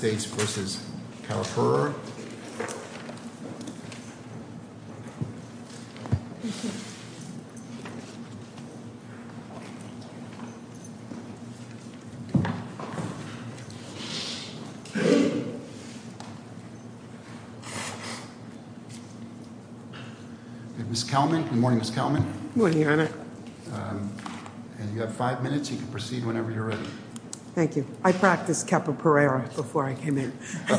Good morning, Ms. Kelman. Good morning, Your Honor. You have five minutes. You can proceed whenever you're ready. Thank you. I practiced Kauapirura before I came in. I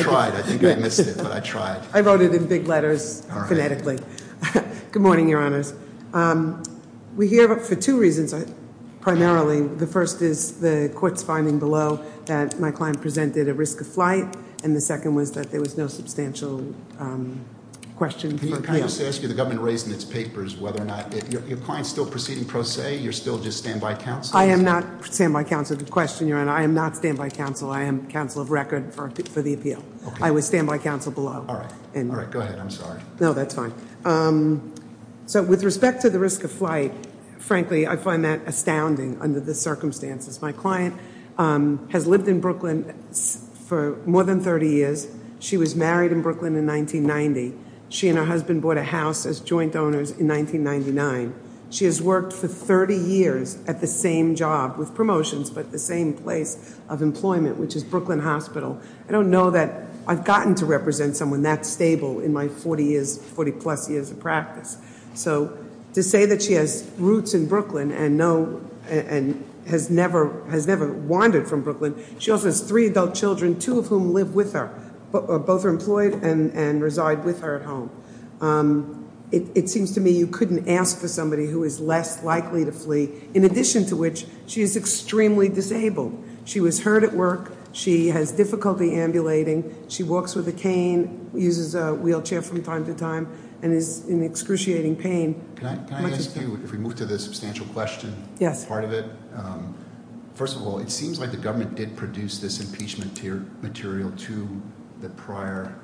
tried. I think I missed it, but I tried. I wrote it in big letters, phonetically. Good morning, Your Honors. We're here for two reasons, primarily. The first is the court's finding below that my client presented a risk of flight, and the second was that there was no substantial question. Can I just ask you, the government raised in its papers whether or not your client's still proceeding pro se, you're still just standby counsel? I am not standby counsel to question, Your Honor. I am not standby counsel. I am counsel of record for the appeal. I was standby counsel below. All right. All right. Go ahead. I'm sorry. No, that's fine. So with respect to the risk of flight, frankly, I find that astounding under the circumstances. My client has lived in Brooklyn for more than 30 years. She was married in Brooklyn in 1990. She and her husband bought a house as joint owners in 1999. She has worked for 30 years at the same job with promotions, but the same place of employment, which is Brooklyn Hospital. I don't know that I've gotten to represent someone that stable in my 40-plus years of practice. So to say that she has roots in Brooklyn and has never wandered from Brooklyn, she also has three adult children, two of whom live with her. Both are employed and reside with her at home. It seems to me you couldn't ask for somebody who is less likely to flee, in addition to which she is extremely disabled. She was hurt at work. She has difficulty ambulating. She walks with a cane, uses a wheelchair from time to time, and is in excruciating pain. Can I ask you, if we move to the substantial question part of it? First of all, it seems like the government did produce this impeachment material to the prior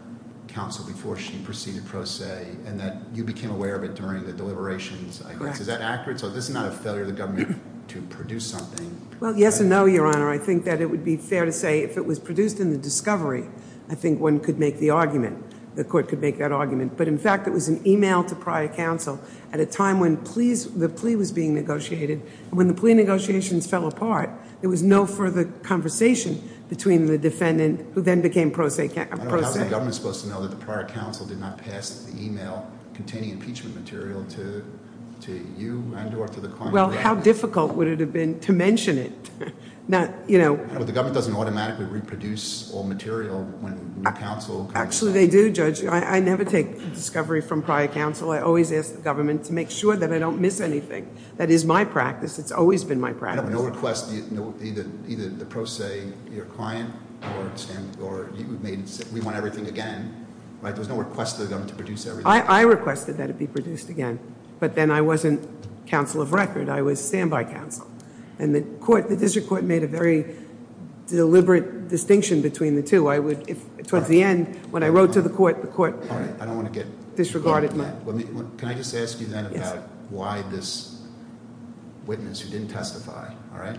counsel before she proceeded pro se, and that you became aware of it during the deliberations. Correct. Is that accurate? So this is not a failure of the government to produce something. Well, yes and no, Your Honor. I think that it would be fair to say if it was produced in the discovery, I think one could make the argument. The court could make that argument. But, in fact, it was an email to prior counsel at a time when the plea was being negotiated. When the plea negotiations fell apart, there was no further conversation between the defendant who then became pro se. How is the government supposed to know that the prior counsel did not pass the email containing impeachment material to you and or to the client? Well, how difficult would it have been to mention it? The government doesn't automatically reproduce all material when new counsel comes in. Actually they do, Judge. I never take discovery from prior counsel. I always ask the government to make sure that I don't miss anything. That is my practice. It's always been my practice. No request, either the pro se, your client, or we want everything again. Right? There was no request to the government to produce everything. I requested that it be produced again. But then I wasn't counsel of record. I was standby counsel. And the court, the district court, made a very deliberate distinction between the two. I would, towards the end, when I wrote to the court, the court- All right, I don't want to get- Disregarded my- Can I just ask you then about why this witness who didn't testify, all right?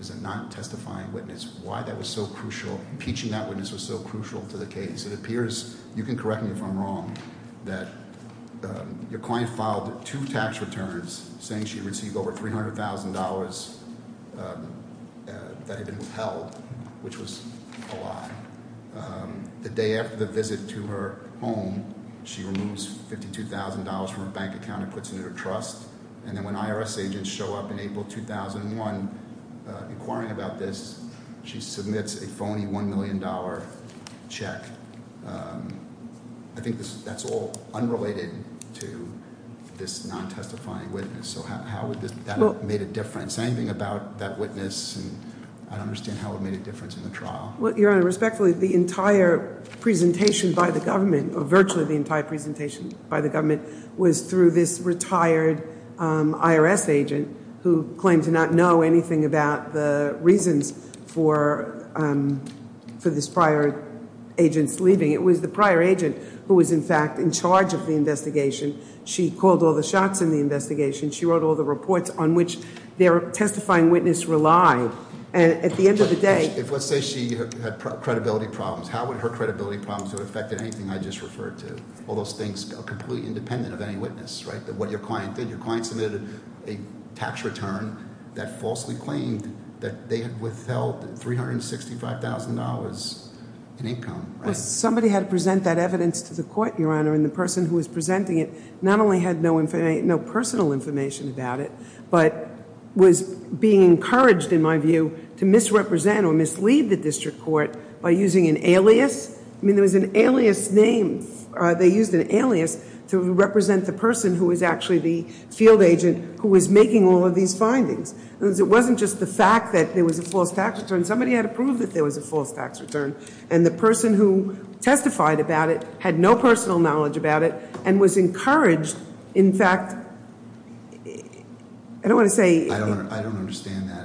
Is a non-testifying witness. Why that was so crucial? Impeaching that witness was so crucial to the case. It appears, you can correct me if I'm wrong, that your client filed two tax returns saying she received over $300,000 that had been withheld. Which was a lie. The day after the visit to her home, she removes $52,000 from her bank account and puts it in her trust. And then when IRS agents show up in April 2001 inquiring about this, she submits a phony $1 million check. I think that's all unrelated to this non-testifying witness. So how would that have made a difference? Say anything about that witness and I'd understand how it made a difference in the trial. Your Honor, respectfully, the entire presentation by the government, or virtually the entire presentation by the government, was through this retired IRS agent who claimed to not know anything about the reasons for this prior agent's leaving. It was the prior agent who was in fact in charge of the investigation. She called all the shots in the investigation. She wrote all the reports on which their testifying witness relied. And at the end of the day- Let's say she had credibility problems. How would her credibility problems have affected anything I just referred to? All those things are completely independent of any witness, right? What your client did. Your client submitted a tax return that falsely claimed that they had withheld $365,000 in income. Somebody had to present that evidence to the court, Your Honor. And the person who was presenting it not only had no personal information about it, but was being encouraged, in my view, to misrepresent or mislead the district court by using an alias. I mean, there was an alias name. They used an alias to represent the person who was actually the field agent who was making all of these findings. It wasn't just the fact that there was a false tax return. Somebody had to prove that there was a false tax return. And the person who testified about it had no personal knowledge about it and was encouraged. In fact, I don't want to say- I don't understand that.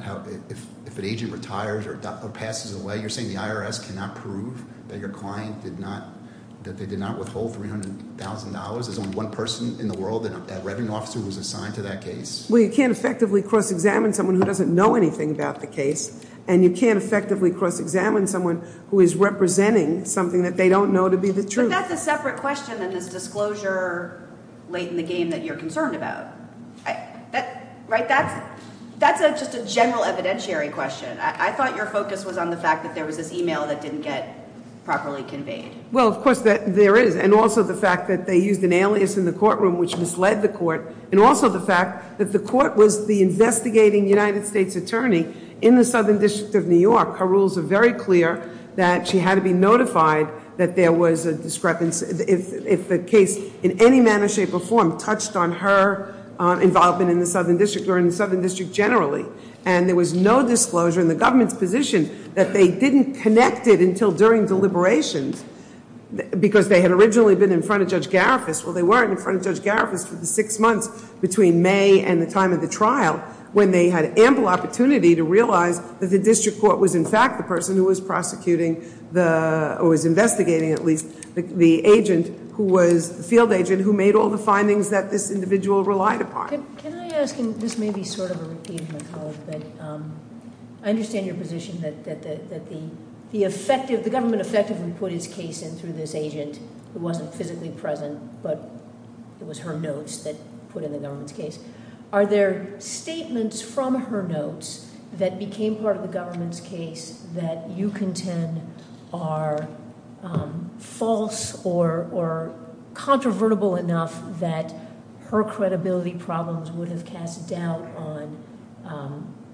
If an agent retires or passes away, you're saying the IRS cannot prove that your client did not withhold $300,000? There's only one person in the world, that revenue officer, who was assigned to that case? Well, you can't effectively cross-examine someone who doesn't know anything about the case. And you can't effectively cross-examine someone who is representing something that they don't know to be the truth. But that's a separate question than this disclosure late in the game that you're concerned about. Right? That's just a general evidentiary question. I thought your focus was on the fact that there was this e-mail that didn't get properly conveyed. Well, of course, there is. And also the fact that they used an alias in the courtroom, which misled the court. And also the fact that the court was the investigating United States attorney in the Southern District of New York. Her rules are very clear that she had to be notified that there was a discrepancy. If the case, in any manner, shape, or form, touched on her involvement in the Southern District or in the Southern District generally. And there was no disclosure in the government's position that they didn't connect it until during deliberations. Because they had originally been in front of Judge Garifus. Well, they weren't in front of Judge Garifus for the six months between May and the time of the trial. When they had ample opportunity to realize that the district court was in fact the person who was prosecuting or was investigating, at least, the agent who was the field agent who made all the findings that this individual relied upon. Can I ask, and this may be sort of a repeat of my colleague. But I understand your position that the government effectively put his case in through this agent. It wasn't physically present, but it was her notes that put in the government's case. Are there statements from her notes that became part of the government's case that you contend are false or controvertible enough that her credibility problems would have cast doubt on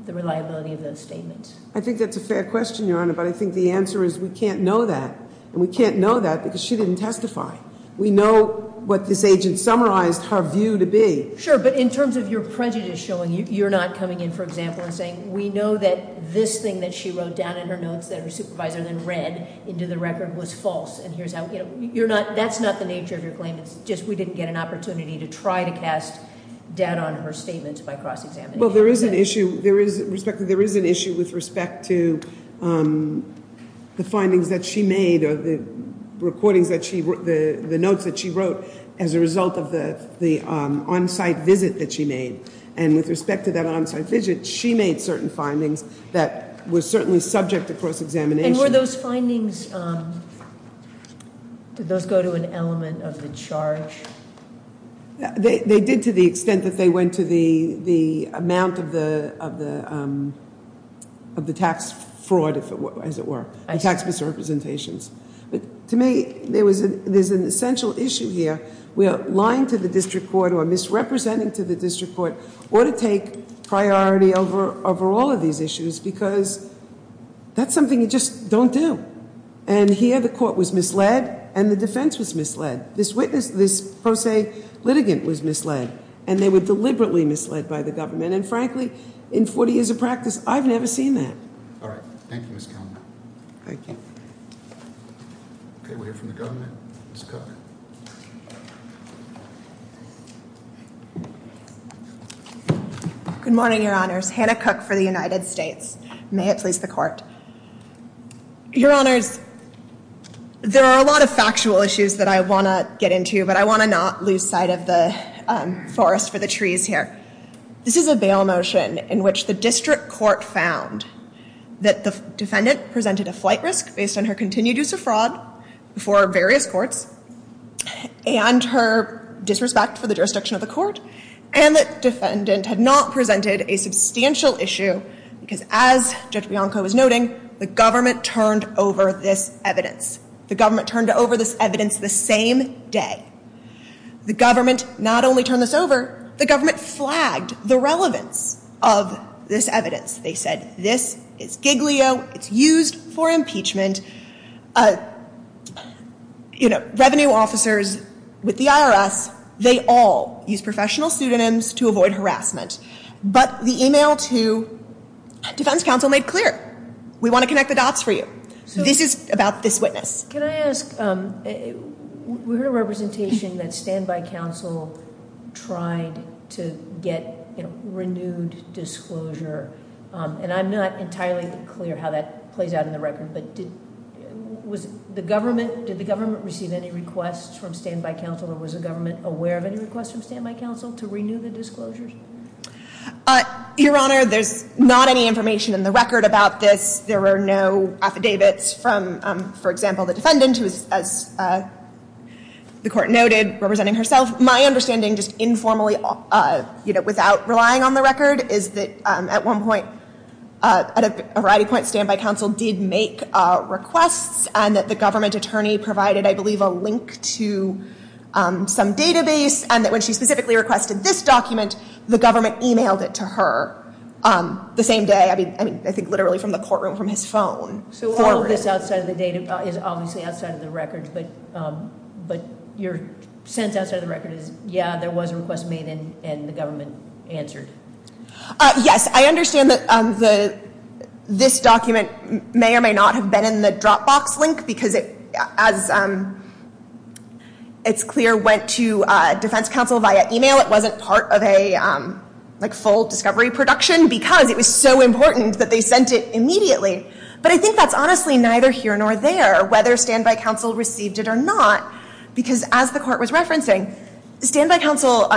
the reliability of those statements? I think that's a fair question, Your Honor, but I think the answer is we can't know that. And we can't know that because she didn't testify. We know what this agent summarized her view to be. Sure, but in terms of your prejudice showing, you're not coming in, for example, and saying we know that this thing that she wrote down in her notes that her supervisor then read into the record was false. And that's not the nature of your claim, it's just we didn't get an opportunity to try to cast doubt on her statements by cross-examination. Well, there is an issue with respect to the findings that she made or the notes that she wrote as a result of the on-site visit that she made. And with respect to that on-site visit, she made certain findings that were certainly subject to cross-examination. And were those findings, did those go to an element of the charge? They did to the extent that they went to the amount of the tax fraud, as it were, and tax misrepresentations. But to me, there's an essential issue here where lying to the district court or misrepresenting to the district court ought to take priority over all of these issues because that's something you just don't do. And here the court was misled and the defense was misled. This pro se litigant was misled and they were deliberately misled by the government. And frankly, in 40 years of practice, I've never seen that. All right. Thank you, Ms. Kellner. Thank you. Okay, we'll hear from the government. Ms. Cook. Good morning, Your Honors. Hannah Cook for the United States. May it please the Court. Your Honors, there are a lot of factual issues that I want to get into, but I want to not lose sight of the forest for the trees here. This is a bail motion in which the district court found that the defendant presented a flight risk based on her continued use of fraud before various courts and her disrespect for the jurisdiction of the court and that the defendant had not presented a substantial issue because, as Judge Bianco was noting, the government turned over this evidence. The government turned over this evidence the same day. The government not only turned this over, the government flagged the relevance of this evidence. They said this is giglio. It's used for impeachment. Revenue officers with the IRS, they all use professional pseudonyms to avoid harassment. But the e-mail to defense counsel made clear, we want to connect the dots for you. This is about this witness. Can I ask, we heard a representation that standby counsel tried to get renewed disclosure, and I'm not entirely clear how that plays out in the record, but did the government receive any requests from standby counsel or was the government aware of any requests from standby counsel to renew the disclosures? Your Honor, there's not any information in the record about this. There are no affidavits from, for example, the defendant, who is, as the court noted, representing herself. My understanding, just informally, you know, without relying on the record, is that at one point, at a variety of points, standby counsel did make requests and that the government attorney provided, I believe, a link to some database and that when she specifically requested this document, the government e-mailed it to her the same day. I mean, I think literally from the courtroom from his phone. So all of this outside of the data is obviously outside of the record, but your sense outside of the record is, yeah, there was a request made and the government answered. Yes, I understand that this document may or may not have been in the Dropbox link because it, as it's clear, went to defense counsel via e-mail. It wasn't part of a, like, full discovery production because it was so important that they sent it immediately. But I think that's honestly neither here nor there, whether standby counsel received it or not, because as the court was referencing, standby counsel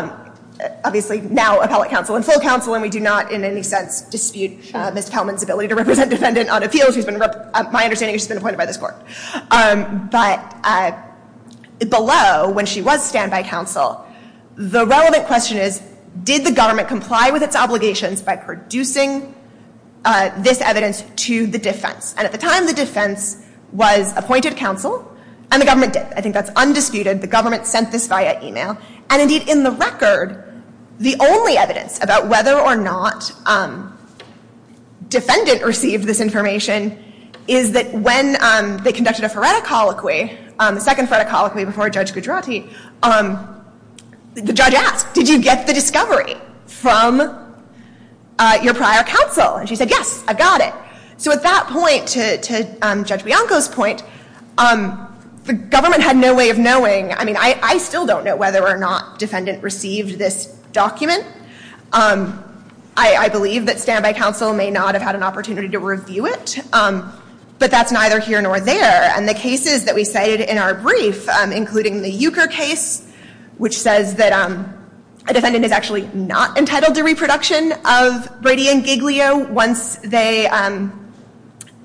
obviously now appellate counsel and full counsel, and we do not in any sense dispute Ms. Kelman's ability to represent defendant on appeals. My understanding is she's been appointed by this court. But below, when she was standby counsel, the relevant question is, did the government comply with its obligations by producing this evidence to the defense? And at the time, the defense was appointed counsel, and the government did. I think that's undisputed. The government sent this via e-mail. And indeed, in the record, the only evidence about whether or not defendant received this information is that when they conducted a phoretic colloquy, the second phoretic colloquy before Judge Gujarati, the judge asked, did you get the discovery from your prior counsel? And she said, yes, I got it. So at that point, to Judge Bianco's point, the government had no way of knowing. I mean, I still don't know whether or not defendant received this document. I believe that standby counsel may not have had an opportunity to review it, but that's neither here nor there. And the cases that we cited in our brief, including the Euchre case, which says that a defendant is actually not entitled to reproduction of Brady and Giglio once they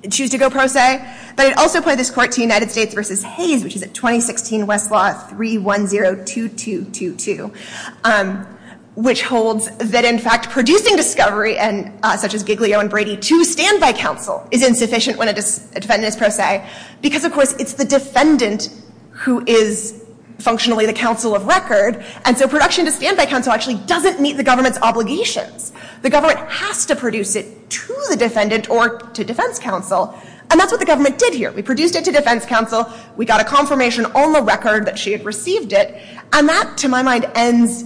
choose to go pro se, but it also applied this court to United States v. Hayes, which is at 2016 Westlaw 3102222, which holds that, in fact, producing discovery such as Giglio and Brady to standby counsel is insufficient when a defendant is pro se because, of course, it's the defendant who is functionally the counsel of record. And so production to standby counsel actually doesn't meet the government's obligations. The government has to produce it to the defendant or to defense counsel. And that's what the government did here. We produced it to defense counsel. We got a confirmation on the record that she had received it. And that, to my mind, ends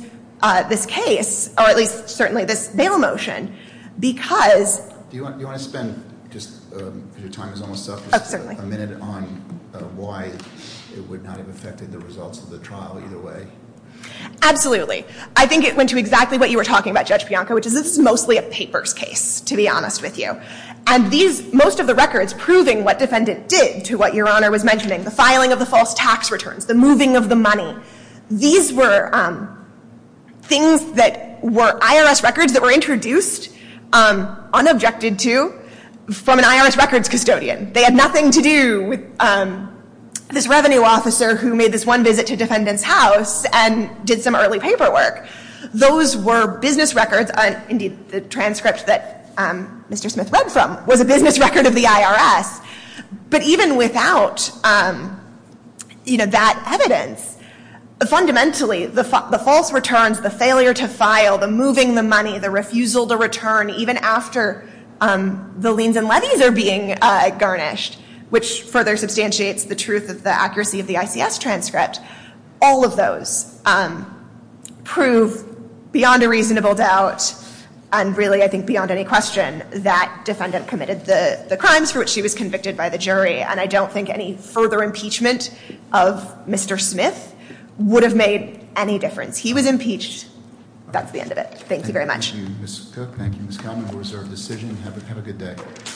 this case, or at least certainly this bail motion, because— Do you want to spend, just because your time is almost up— —a minute on why it would not have affected the results of the trial either way? Absolutely. I think it went to exactly what you were talking about, Judge Bianco, which is this is mostly a papers case, to be honest with you. And most of the records proving what defendant did to what Your Honor was mentioning, the filing of the false tax returns, the moving of the money, these were things that were IRS records that were introduced, unobjected to, from an IRS records custodian. They had nothing to do with this revenue officer who made this one visit to defendant's house and did some early paperwork. Those were business records. Indeed, the transcript that Mr. Smith read from was a business record of the IRS. But even without that evidence, fundamentally, the false returns, the failure to file, the moving the money, the refusal to return even after the liens and levies are being garnished, which further substantiates the truth of the accuracy of the ICS transcript, all of those prove beyond a reasonable doubt, and really I think beyond any question, that defendant committed the crimes for which she was convicted by the jury. And I don't think any further impeachment of Mr. Smith would have made any difference. He was impeached. That's the end of it. Thank you very much. Thank you, Ms. Cook. Thank you, Ms. Kalman, who reserved the decision. Have a good day.